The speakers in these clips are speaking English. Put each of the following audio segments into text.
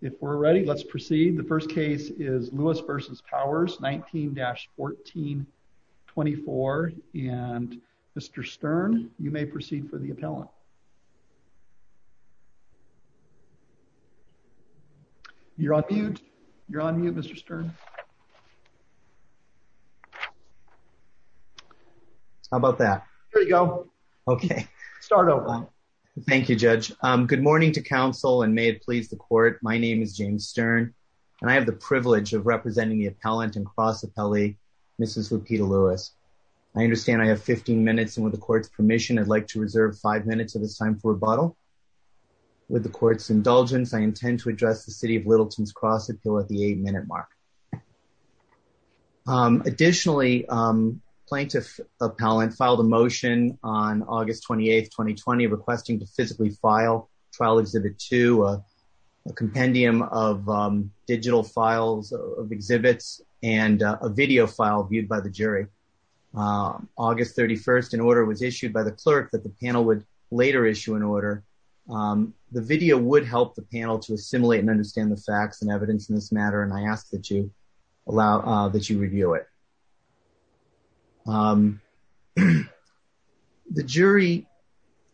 If we're ready, let's proceed. The first case is Lewis versus Powers 19-14-24. And Mr. Stern, you may proceed for the appellant. You're on mute. You're on mute, Mr. Stern. How about that? There you go. Okay, start over. Thank you, Judge. Good morning to Council and may it please the Court. My name is James Stern, and I have the privilege of representing the appellant and cross appellee, Mrs. Lupita Lewis. I understand I have 15 minutes, and with the Court's permission, I'd like to reserve five minutes of this time for rebuttal. With the Court's indulgence, I intend to address the City of Littleton's cross appeal at the eight-minute mark. Additionally, plaintiff appellant filed a motion on August 28, 2020, requesting to physically file Trial Exhibit 2, a compendium of digital files of exhibits, and a video file viewed by the jury. August 31, an order was issued by the clerk that the panel would later issue an order. The video would help the panel to assimilate and understand the facts and evidence in this matter, and I ask that you review it. The jury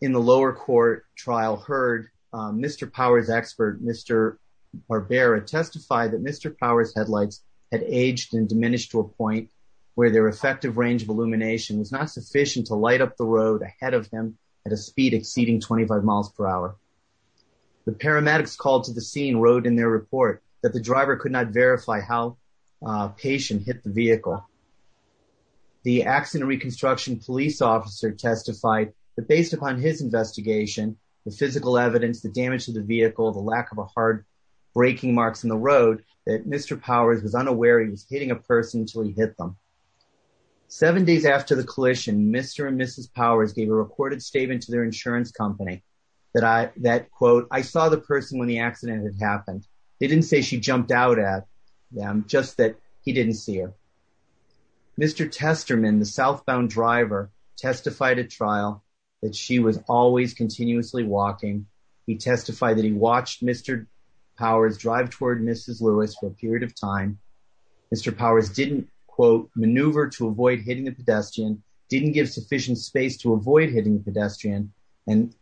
in the lower court trial heard Mr. Powers' expert, Mr. Barbera, testify that Mr. Powers' headlights had aged and diminished to a point where their effective range of illumination was not sufficient to light up the road ahead of him at a speed exceeding 25 miles per hour. The paramedics called to the scene wrote in their report that the driver could not verify how patient hit the vehicle. The accident reconstruction police officer testified that based upon his investigation, the physical evidence, the damage to the vehicle, the lack of a hard braking marks in the road, that Mr. Powers was unaware he was hitting a person until he hit them. Seven days after the collision, Mr. and Mrs. Powers gave a recorded statement to their insurance company that, quote, I saw the person when the accident had happened. They didn't say she jumped out at them, just that he didn't see her. Mr. Testerman, the southbound driver, testified at trial that she was always continuously walking. He testified that he watched Mr. Powers drive toward Mrs. Lewis for a period of time. Mr. Powers didn't, quote, maneuver to avoid hitting the pedestrian, didn't give sufficient space to avoid hitting the pedestrian, and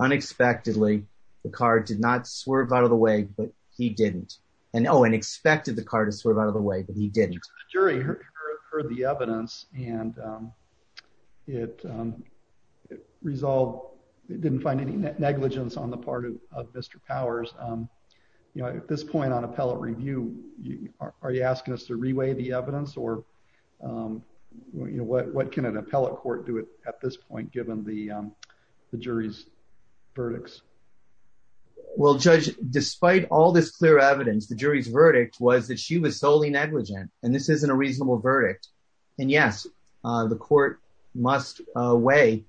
unexpectedly, the car did not swerve out of the way, but he didn't. And, oh, and expected the car to swerve out of the way, but he didn't. The jury heard the evidence, and it resolved, didn't find any negligence on the part of Mr. Powers. You know, at this point on appellate review, are you asking us to reweigh the evidence, or, you know, what can an appellate court do at this point, given the jury's verdicts? Well, Judge, despite all this clear evidence, the jury's verdict was that she was solely negligent, and this isn't a reasonable verdict. And yes, the court must weigh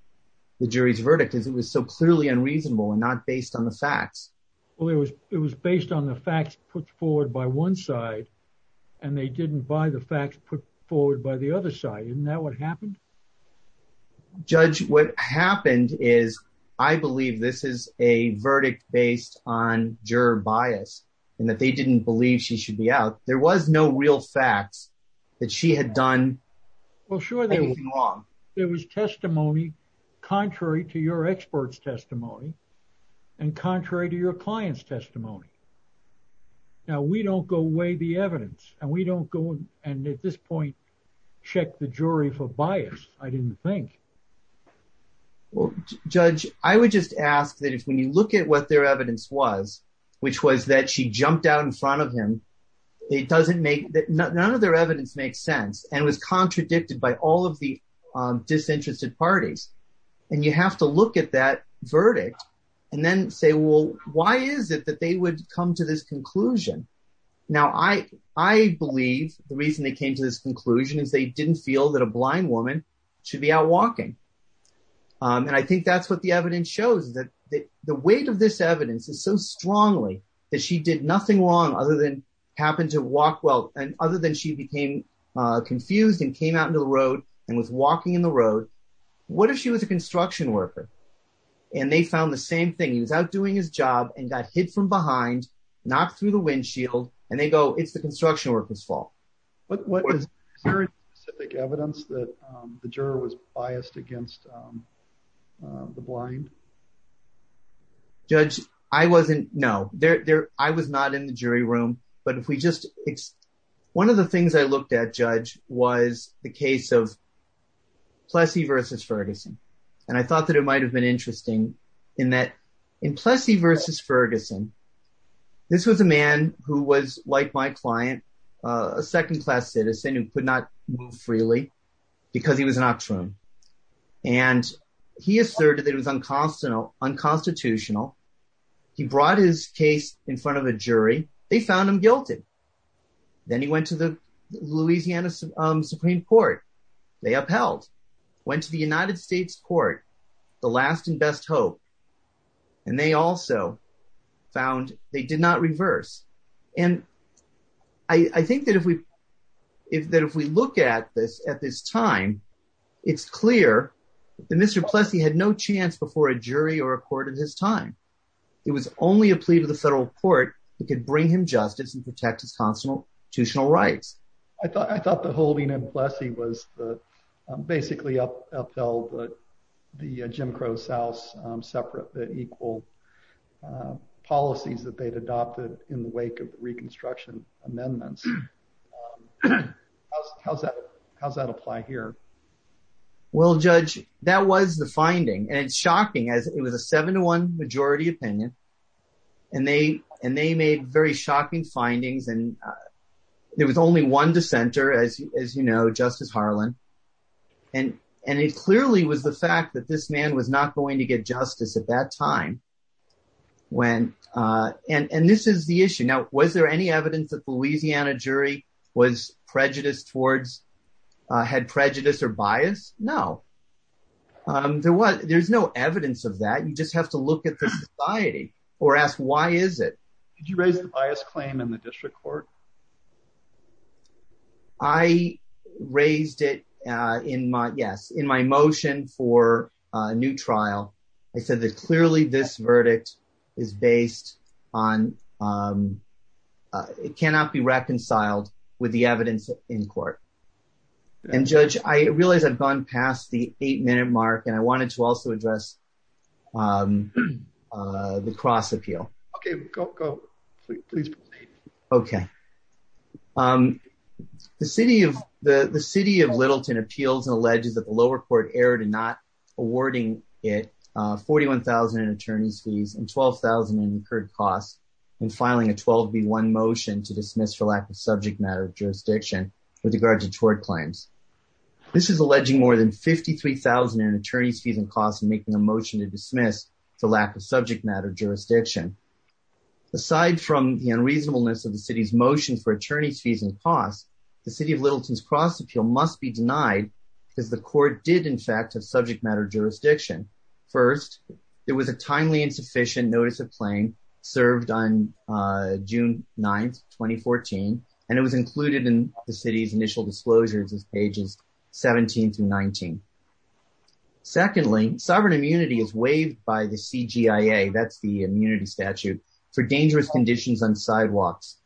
the jury's verdict, as it was so clearly unreasonable and not based on the facts. Well, it was based on the facts put forward by the other side. Isn't that what happened? Judge, what happened is, I believe this is a verdict based on juror bias, and that they didn't believe she should be out. There was no real facts that she had done anything wrong. Well, sure, there was testimony contrary to your expert's testimony, and contrary to your client's evidence. And we don't go and, at this point, check the jury for bias, I didn't think. Well, Judge, I would just ask that if, when you look at what their evidence was, which was that she jumped out in front of him, it doesn't make, that none of their evidence makes sense, and was contradicted by all of the disinterested parties, and you have to look at that I believe the reason they came to this conclusion is they didn't feel that a blind woman should be out walking. And I think that's what the evidence shows, that the weight of this evidence is so strongly that she did nothing wrong, other than happened to walk well, and other than she became confused, and came out into the road, and was walking in the road. What if she was a construction worker, and they found the same thing? He was out doing his job, and got hit from behind, knocked through the windshield, and they go, it's the construction worker's fault. But what is very specific evidence that the juror was biased against the blind? Judge, I wasn't, no, there, there, I was not in the jury room. But if we just, it's, one of the things I looked at, Judge, was the case of Plessy versus Ferguson. And I thought that it might have been interesting, in that, in Plessy versus Ferguson, this was a man who was, like my client, a second-class citizen, who could not move freely, because he was an octoroon. And he asserted that it was unconstitutional. He brought his case in front of a jury, they found him guilty. Then he best hope. And they also found they did not reverse. And I think that if we, if that if we look at this, at this time, it's clear that Mr. Plessy had no chance before a jury or a court at his time. It was only a plea to the federal court that could bring him justice and protect his constitutional rights. I thought, I thought the holding in Plessy was the, basically upheld the Jim Crow South's separate but equal policies that they'd adopted in the wake of the Reconstruction amendments. How's that? How's that apply here? Well, Judge, that was the finding. And it's shocking as it was a seven to one majority opinion. And they and they made very shocking findings. And there was only one dissenter, as you know, Justice Harlan. And, and it clearly was the man was not going to get justice at that time. When, and this is the issue. Now, was there any evidence that the Louisiana jury was prejudiced towards had prejudice or bias? No. There was, there's no evidence of that. You just have to look at the society or ask why is it? Did you raise the bias claim in the district court? I raised it in my Yes, in my motion for a new trial, I said that clearly this verdict is based on it cannot be reconciled with the evidence in court. And Judge, I realize I've gone past the eight minute mark. And I wanted to also address the cross appeal. Okay, please. Okay. Um, the city of the city of Littleton appeals and alleges that the lower court erred and not awarding it 41,000 in attorney's fees and 12,000 incurred costs in filing a 12 v one motion to dismiss for lack of subject matter of jurisdiction with regard to tort claims. This is alleging more than 53,000 in attorney's fees and costs and making a motion to dismiss for lack of subject matter jurisdiction. Aside from the unreasonableness of the city's motion for attorney's fees and costs, the city of Littleton's cross appeal must be denied because the court did in fact have subject matter jurisdiction. First, there was a timely insufficient notice of playing served on June 9 2014. And it was included in the city's initial disclosures as pages 17 to 19. Secondly, sovereign immunity is waived by the CGI a that's the immunity statute for dangerous conditions on sidewalks.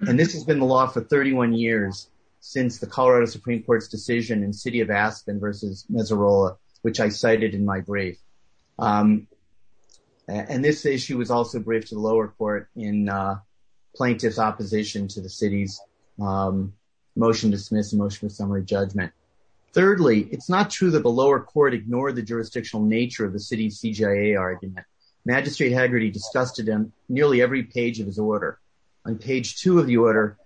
And this has been the law for 31 years since the Colorado Supreme Court's decision in city of Aspen versus Missoula, which I cited in my brief. And this issue was also briefed to the lower court in plaintiff's opposition to the city's motion dismiss motion for summary judgment. Thirdly, it's not true that the lower court ignored the jurisdictional nature of the city's CGI argument. Magistrate Haggerty discussed it in nearly every page of his order. On page two of the order.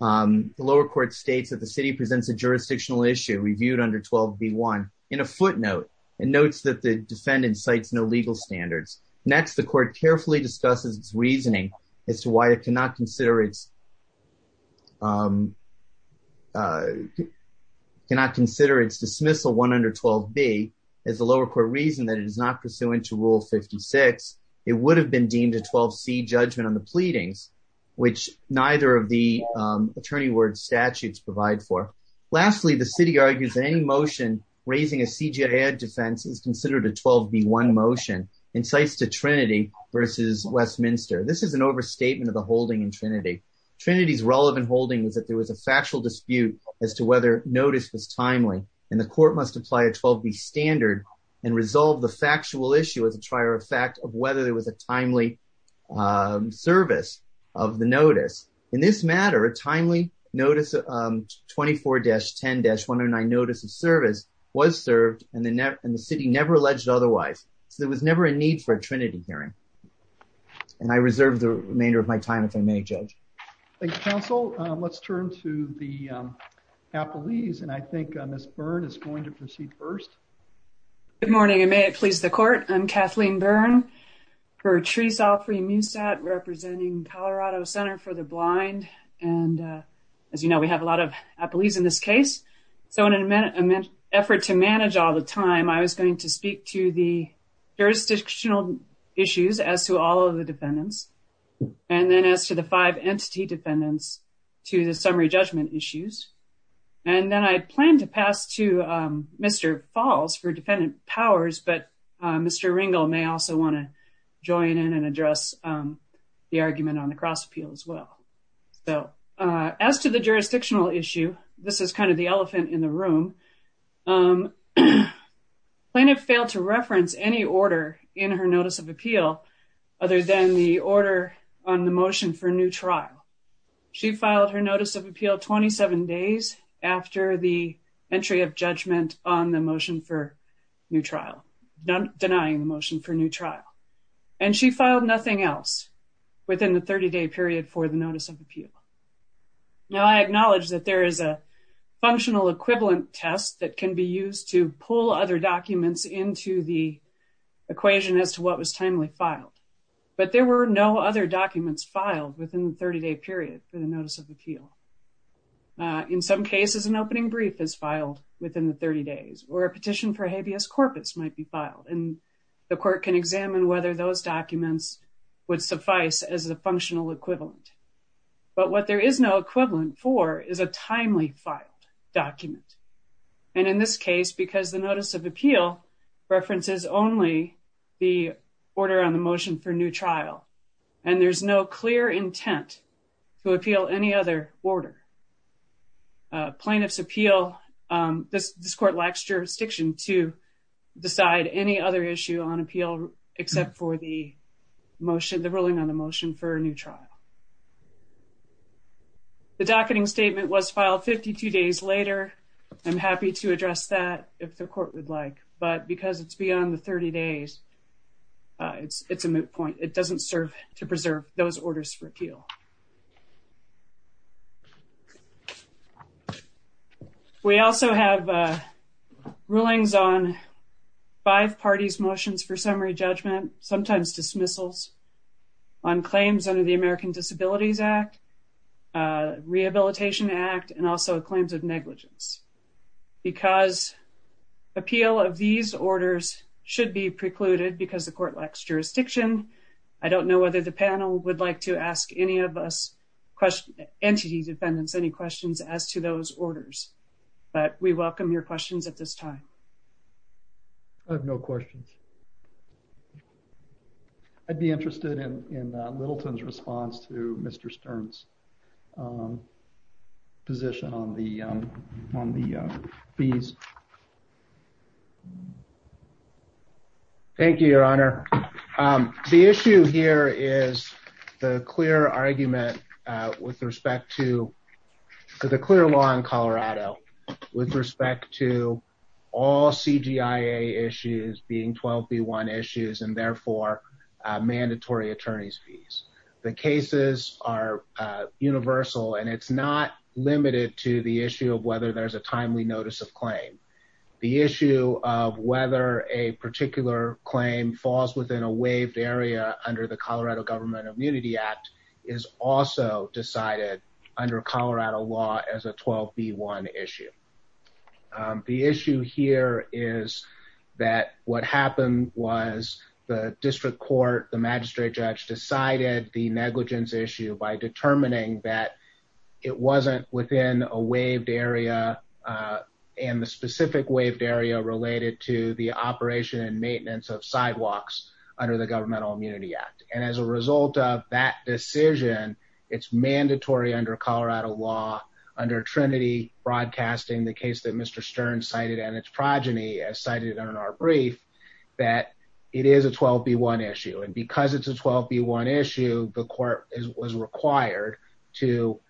The lower court states that the city presents a jurisdictional issue reviewed under 12 v one in a footnote and notes that the defendant cites no legal standards. Next, the court carefully discusses its reasoning as to why it cannot consider its cannot consider its dismissal one under 12 b is the lower court reason that it is not pursuant to rule 56. It would have been deemed a 12 c judgment on the pleadings, which neither of the attorney word statutes provide for. Lastly, the city argues that any motion raising a CGI defense is considered a 12 b one motion incites to Trinity versus Westminster. This is an overstatement of the holding in Trinity. Trinity's relevant holding was that there was a factual dispute as to whether notice was timely, and the court must apply a 12 b standard and resolve the factual issue as a trier of fact of whether there was a timely service of the notice. In this matter, a timely notice of 24-10-109 notice of service was served, and the city never alleged otherwise, so there was never a need for a Trinity hearing. And I reserve the remainder of my time if I may, Judge. Thank you, counsel. Let's turn to the appellees, and I think Ms. Byrne is going to proceed first. Good morning, and may it please the court. I'm Kathleen Byrne, Bertrice Alfre Musat, representing Colorado Center for the Blind. And as you know, we have a lot of appellees in this case. So in an effort to manage all the time, I was going to speak to the jurisdictional issues as to all of the defendants, and then as to the five entity defendants, to the summary judgment issues. And then I plan to pass to Mr. Falls for defendant powers, but Mr. Ringel may also want to join in and address the argument on the cross appeal as well. So as to the jurisdictional issue, this is kind of the elephant in the room. Plaintiff failed to reference any order in her notice of appeal other than the order on the motion for new trial. She filed her notice of appeal 27 days after the entry of judgment on the motion for new trial, denying the motion for new trial. And she filed nothing else within the 30-day period for the notice of appeal. Now, I acknowledge that there is a functional equivalent test that can be used to pull other documents into the equation as to what was timely filed, but there were no other documents filed within the 30-day period for the notice of appeal. In some cases, an opening brief is filed within the 30 days or a petition for habeas corpus might be filed, and the court can examine whether those documents would suffice as a functional equivalent. But what there is no equivalent for is a timely filed document. And in this case, because the notice of appeal references only the order on the motion for new trial, and there's no clear intent to appeal any other order, plaintiff's appeal, this court lacks jurisdiction to decide any other issue on appeal except for the ruling on the motion for a new trial. The docketing statement was filed 52 days later. I'm happy to address that if the court would like, but because it's beyond the 30 days, it's a moot point. It doesn't serve to preserve those orders for appeal. We also have rulings on five parties' motions for summary judgment, sometimes dismissals, on claims under the American Disabilities Act, Rehabilitation Act, and also claims of negligence. Because appeal of these orders should be precluded because the court lacks jurisdiction, I don't know whether the panel would like to ask any of us, entity defendants, any questions as to those orders. But we welcome your questions at this time. I have no questions. I'd be interested in Littleton's response to Mr. Stern's position on the fees. Thank you, Your Honor. The issue here is the clear argument with respect to the clear law in Colorado with respect to all CGI issues being 12 v. 1 issues and therefore mandatory attorney's fees. The cases are universal and it's not limited to the issue of whether there's a timely notice of claim. The issue of whether a particular claim falls within a waived area under the Colorado Government Immunity Act is also decided under Colorado law as a 12 v. 1 issue. The issue here is that what happened was the district court, the magistrate judge, decided the negligence issue by determining that it wasn't within a waived area and the specific waived area related to the operation and maintenance of sidewalks under the Governmental Immunity Act. And as a result of that decision, it's mandatory under Colorado law, under Trinity Broadcasting, the case that Mr. Stern cited and its progeny cited in our brief, that it is a 12 v. 1 issue. And because it's a 12 v. 1 issue, the court was required to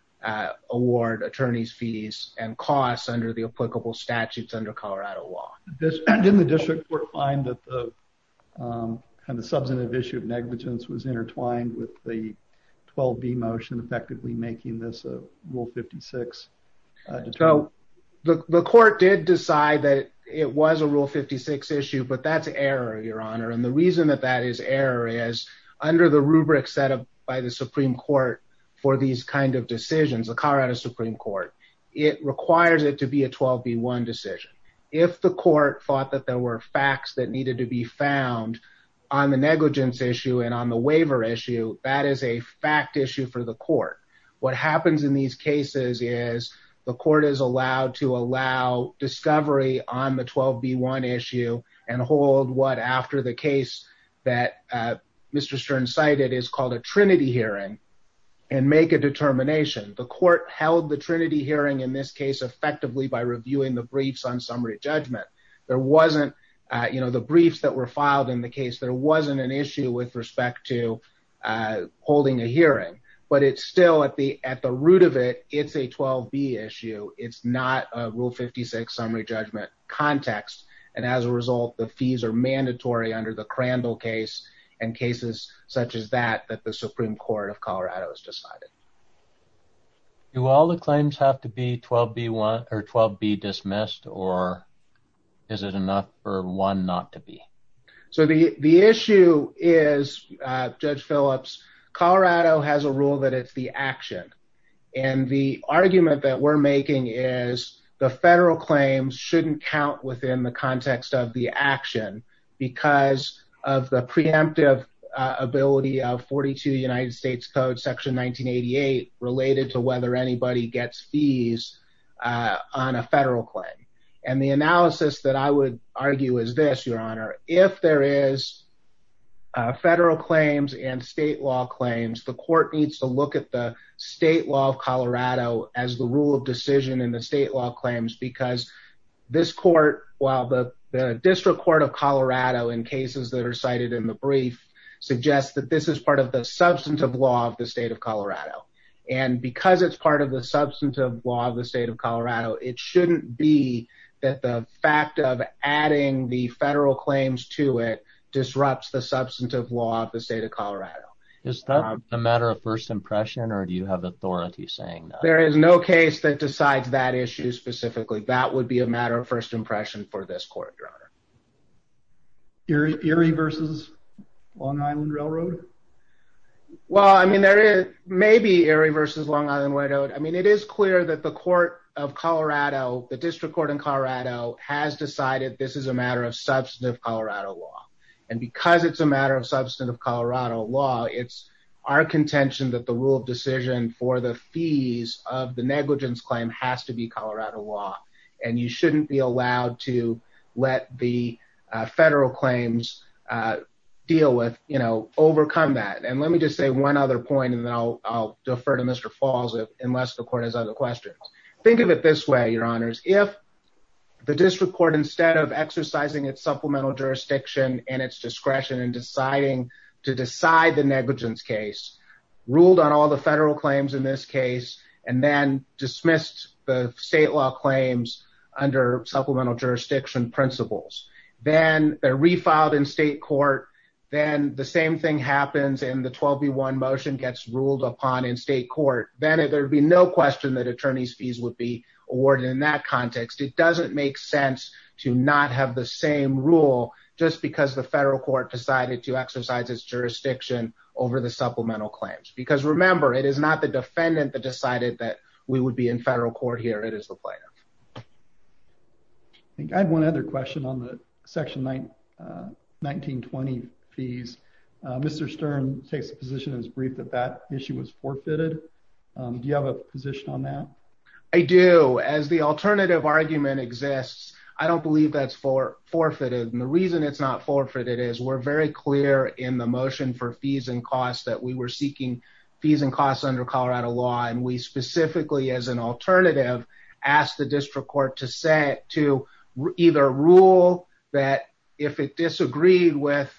award attorney's fees and costs under the applicable statutes under Colorado law. Didn't the district court find that the substantive issue of negligence was intertwined with the 12 v. motion effectively making this a Rule 56? So the court did decide that it was a Rule 56 issue, but that's error, Your Honor. And the reason that that is error is under the rubric set up by the Supreme Court for these kind of decisions, the Colorado Supreme Court, it requires it to be a 12 v. 1 decision. If the court thought that there were facts that needed to be found on the negligence issue and on the waiver issue, that is a fact issue for the court. What happens in these cases is the court is allowed to allow discovery on the 12 v. 1 issue and hold what after the case that Mr Stern cited is called a Trinity hearing and make a determination. The court held the Trinity hearing in this case effectively by reviewing the briefs on summary judgment. There wasn't, you know, the briefs that were filed in the case. There wasn't an issue with respect to, uh, holding a hearing, but it's still at the at the root of it. It's a The fees are mandatory under the Crandall case and cases such as that that the Supreme Court of Colorado has decided. Do all the claims have to be 12 v. 1 or 12 v. Dismissed, or is it enough for one not to be? So the issue is, Judge Phillips, Colorado has a rule that it's the action. And the argument that we're making is the federal claims shouldn't count within the action because of the preemptive ability of 42 United States Code Section 1988 related to whether anybody gets fees on a federal claim. And the analysis that I would argue is this, Your Honor. If there is federal claims and state law claims, the court needs to look at the state law of Colorado as the rule of decision in the state law claims. Because this court, while the District Court of Colorado in cases that are cited in the brief suggests that this is part of the substantive law of the state of Colorado. And because it's part of the substantive law of the state of Colorado, it shouldn't be that the fact of adding the federal claims to it disrupts the substantive law of the state of Colorado. Is that a matter of first impression? Or do you have authority saying there is no case that decides that issue specifically? That would be a matter of first impression for this court, Your Honor. Erie versus Long Island Railroad. Well, I mean, there is maybe Erie versus Long Island White Oat. I mean, it is clear that the court of Colorado, the District Court in Colorado has decided this is a matter of substantive Colorado law. And because it's a matter of substantive Colorado law, it's our contention that the rule of decision for the fees of the negligence claim has to be Colorado law, and you shouldn't be allowed to let the federal claims deal with, you know, overcome that. And let me just say one other point, and then I'll defer to Mr. Falls, unless the court has other questions. Think of it this way, Your Honors. If the District Court, instead of exercising its supplemental jurisdiction and its discretion in deciding to decide the negligence case, ruled on all the federal claims in this case, and then dismissed the state law claims under supplemental jurisdiction principles, then they're refiled in state court, then the same thing happens and the 12B1 motion gets ruled upon in state court, then there'd be no question that attorney's fees would be the federal court decided to exercise its jurisdiction over the supplemental claims. Because remember, it is not the defendant that decided that we would be in federal court here, it is the plaintiff. I think I have one other question on the section 19-20 fees. Mr. Stern takes the position as brief that that issue was forfeited. Do you have a position on that? I do. As the alternative argument exists, I don't believe that's for forfeited. And the reason it's not forfeited is we're very clear in the motion for fees and costs that we were seeking fees and costs under Colorado law. And we specifically, as an alternative, asked the District Court to either rule that if it disagreed with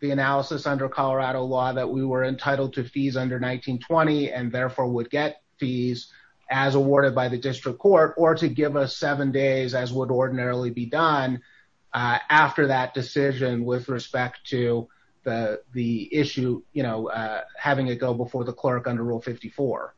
the analysis under Colorado law that we were entitled to fees under 19-20 and therefore would get fees as awarded by the District Court, or to give us as would ordinarily be done after that decision with respect to the issue, having it go before the clerk under Rule 54.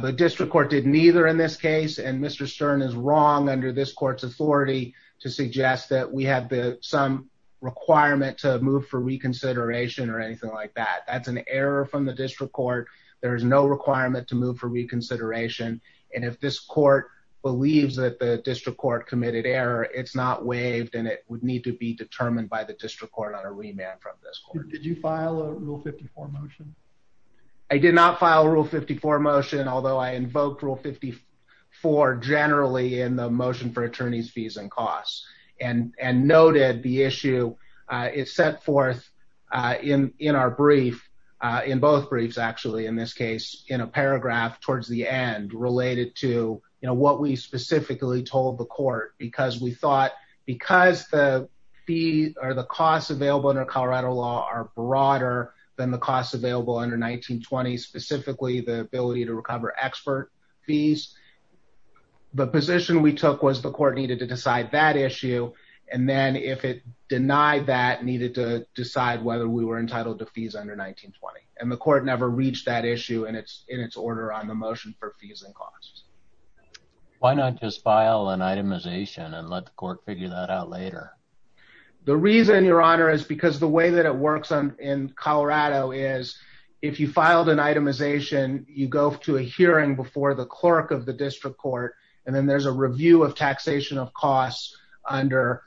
The District Court did neither in this case, and Mr. Stern is wrong under this court's authority to suggest that we have some requirement to move for reconsideration or anything like that. That's an error from the District Court. There is no requirement to move for reconsideration. And if this court believes that the District Court committed error, it's not waived and it would need to be determined by the District Court on a remand from this court. Did you file a Rule 54 motion? I did not file a Rule 54 motion, although I invoked Rule 54 generally in the motion for attorneys fees and costs and noted the issue is set forth in our brief, in both briefs, actually, in this case, in a paragraph towards the end related to, you know, what we specifically told the court because we thought because the fee or the costs available under Colorado law are broader than the costs available under 19-20, specifically the ability to recover expert fees, the position we took was the court needed to decide that issue. And then if it denied that, needed to decide whether we were entitled to fees under 19-20. And the court never reached that issue and it's in its order on the motion for fees and costs. Why not just file an itemization and let the court figure that out later? The reason, Your Honor, is because the way that it works on in Colorado is if you filed an itemization, you go to a hearing before the clerk of the District Court and then there's a review of taxation of costs under,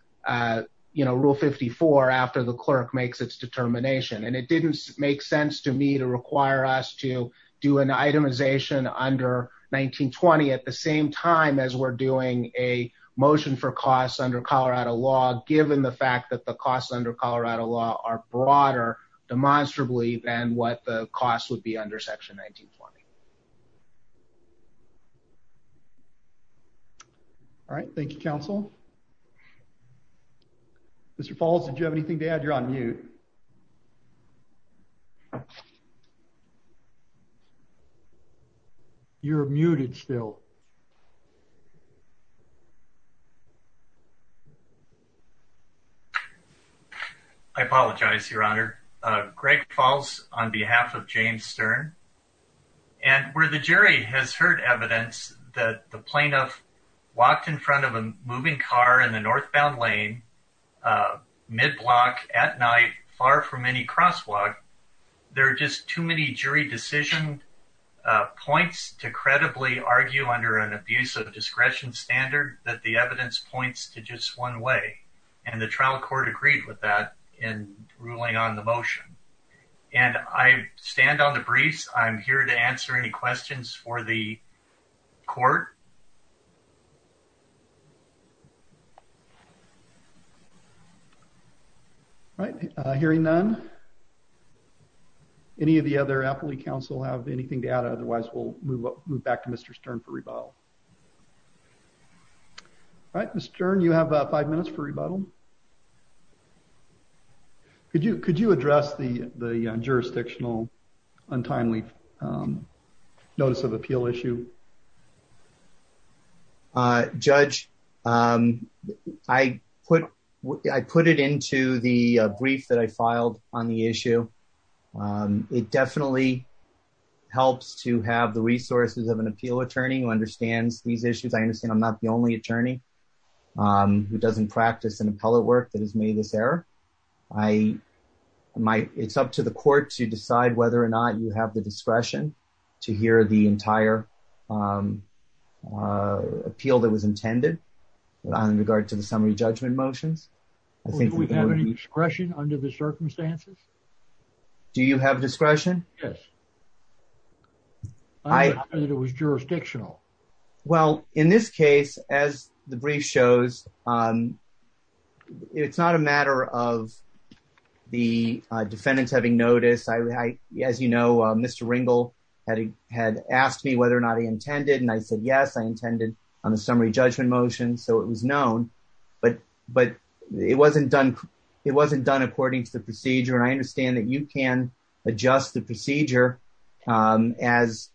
you know, Rule 54 after the clerk makes its determination. And it didn't make sense to me to require us to do an itemization under 19-20 at the same time as we're doing a motion for costs under Colorado law, given the fact that the costs under Colorado law are broader demonstrably than what the costs would be under Section 19-20. All right. Thank you, Counsel. Mr. Falls, did you have anything to add? You're on mute. You're muted still. I apologize, Your Honor. Greg Falls on behalf of James Stern. And where the jury has heard evidence that the plaintiff walked in front of a moving car in the northbound lane, mid-block, at night, far from any crosswalk, there are just too many jury decision points to credibly argue under an abuse of discretion standard that the evidence points to just one way. And the trial court agreed with that in ruling on the motion. And I stand on the briefs. I'm here to answer any questions for the court. All right. Hearing none, any of the other appellee counsel have anything to add? Otherwise, we'll move back to Mr. Stern for rebuttal. All right, Mr. Stern, you have five minutes for rebuttal. Could you address the jurisdictional untimely notice of appeal issue? Judge, I put it into the brief that I filed on the issue. It definitely helps to have the resources of an appeal attorney who understands these issues. I understand I'm not the only attorney who doesn't practice an appellate work that has made this error. It's up to the court to decide whether or not you have the discretion to hear the entire appeal that was intended in regard to the summary judgment motions. Do we have any discretion under the circumstances? Do you have discretion? Yes. I thought it was jurisdictional. Well, in this case, as the brief shows, it's not a matter of the defendants having noticed. As you know, Mr. Ringel had asked me whether or not he intended. And I said, yes, I intended on the summary judgment motion. So it was known. But it wasn't done according to the procedure. And I understand that you can adjust the procedure as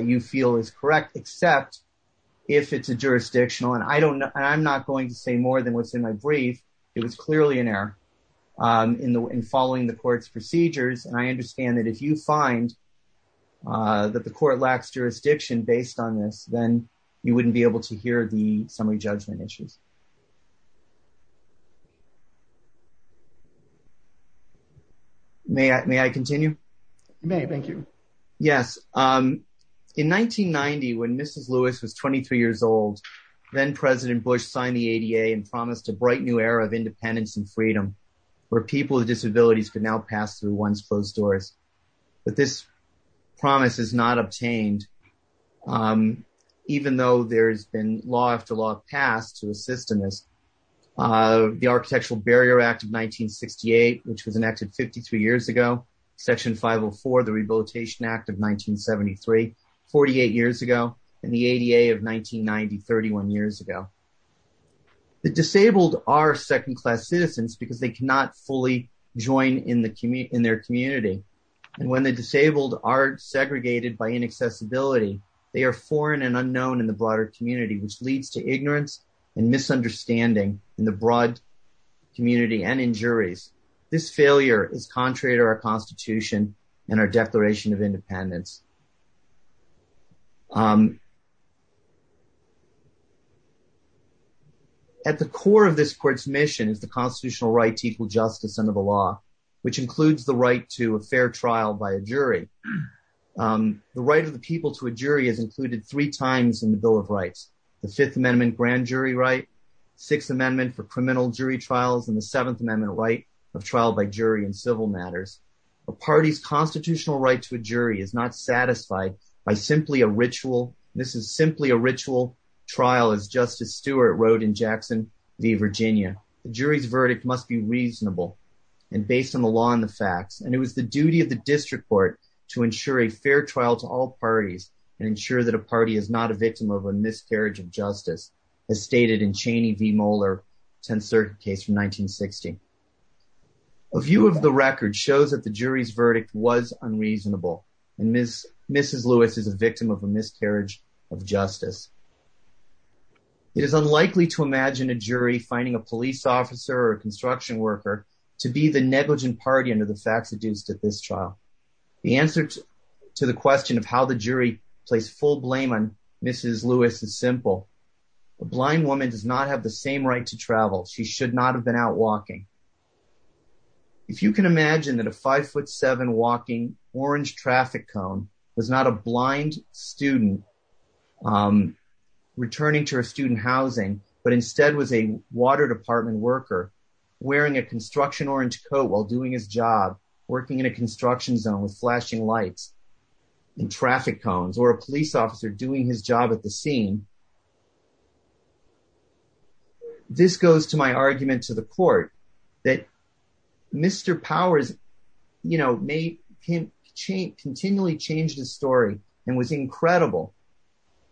you feel is correct, except if it's jurisdictional. And I'm not going to say more than what's in my brief. It was clearly an error in following the court's procedures. And I understand that if you find that the court lacks jurisdiction based on this, then you wouldn't be able to do that. Thank you. Yes. In 1990, when Mrs. Lewis was 23 years old, then President Bush signed the ADA and promised a bright new era of independence and freedom where people with disabilities could now pass through once closed doors. But this promise is not obtained, even though there's been law after law passed to assist in this. The Architectural Section 504, the Rehabilitation Act of 1973, 48 years ago, and the ADA of 1990, 31 years ago. The disabled are second class citizens because they cannot fully join in their community. And when the disabled are segregated by inaccessibility, they are foreign and unknown in the broader community, which leads to ignorance and misunderstanding in the broad community and juries. This failure is contrary to our Constitution and our Declaration of Independence. At the core of this court's mission is the constitutional right to equal justice under the law, which includes the right to a fair trial by a jury. The right of the people to a jury is included three times in the Bill of Rights, the Fifth Amendment grand jury right, Sixth Amendment for criminal jury trials, and the Seventh Amendment right of trial by jury in civil matters. A party's constitutional right to a jury is not satisfied by simply a ritual. This is simply a ritual trial, as Justice Stewart wrote in Jackson v. Virginia. The jury's verdict must be reasonable and based on the law and the facts. And it was the duty of the district court to ensure a fair trial to all parties and ensure that a party is not a victim of a miscarriage of justice, as stated in 10th Circuit case from 1960. A view of the record shows that the jury's verdict was unreasonable, and Mrs. Lewis is a victim of a miscarriage of justice. It is unlikely to imagine a jury finding a police officer or a construction worker to be the negligent party under the facts adduced at this trial. The answer to the question of how the jury placed full blame on Mrs. Lewis is simple. A blind woman does not have the same right to travel. She should not have been out walking. If you can imagine that a five-foot-seven walking orange traffic cone was not a blind student returning to her student housing, but instead was a water department worker wearing a construction orange coat while doing his job, working in a construction zone with a cane, this goes to my argument to the court that Mr. Powers, you know, continually changed his story and was incredible.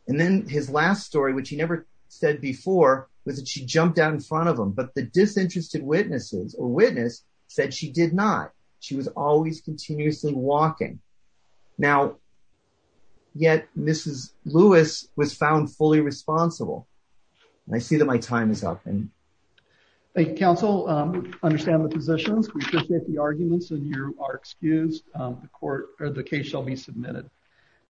And then his last story, which he never said before, was that she jumped out in front of him, but the disinterested witnesses or witness said she did not. She was always continuously walking. Now, yet Mrs. Lewis was found fully responsible. I see that my time is up. Thank you, counsel. I understand the positions. We appreciate the arguments and you are excused. The case shall be submitted.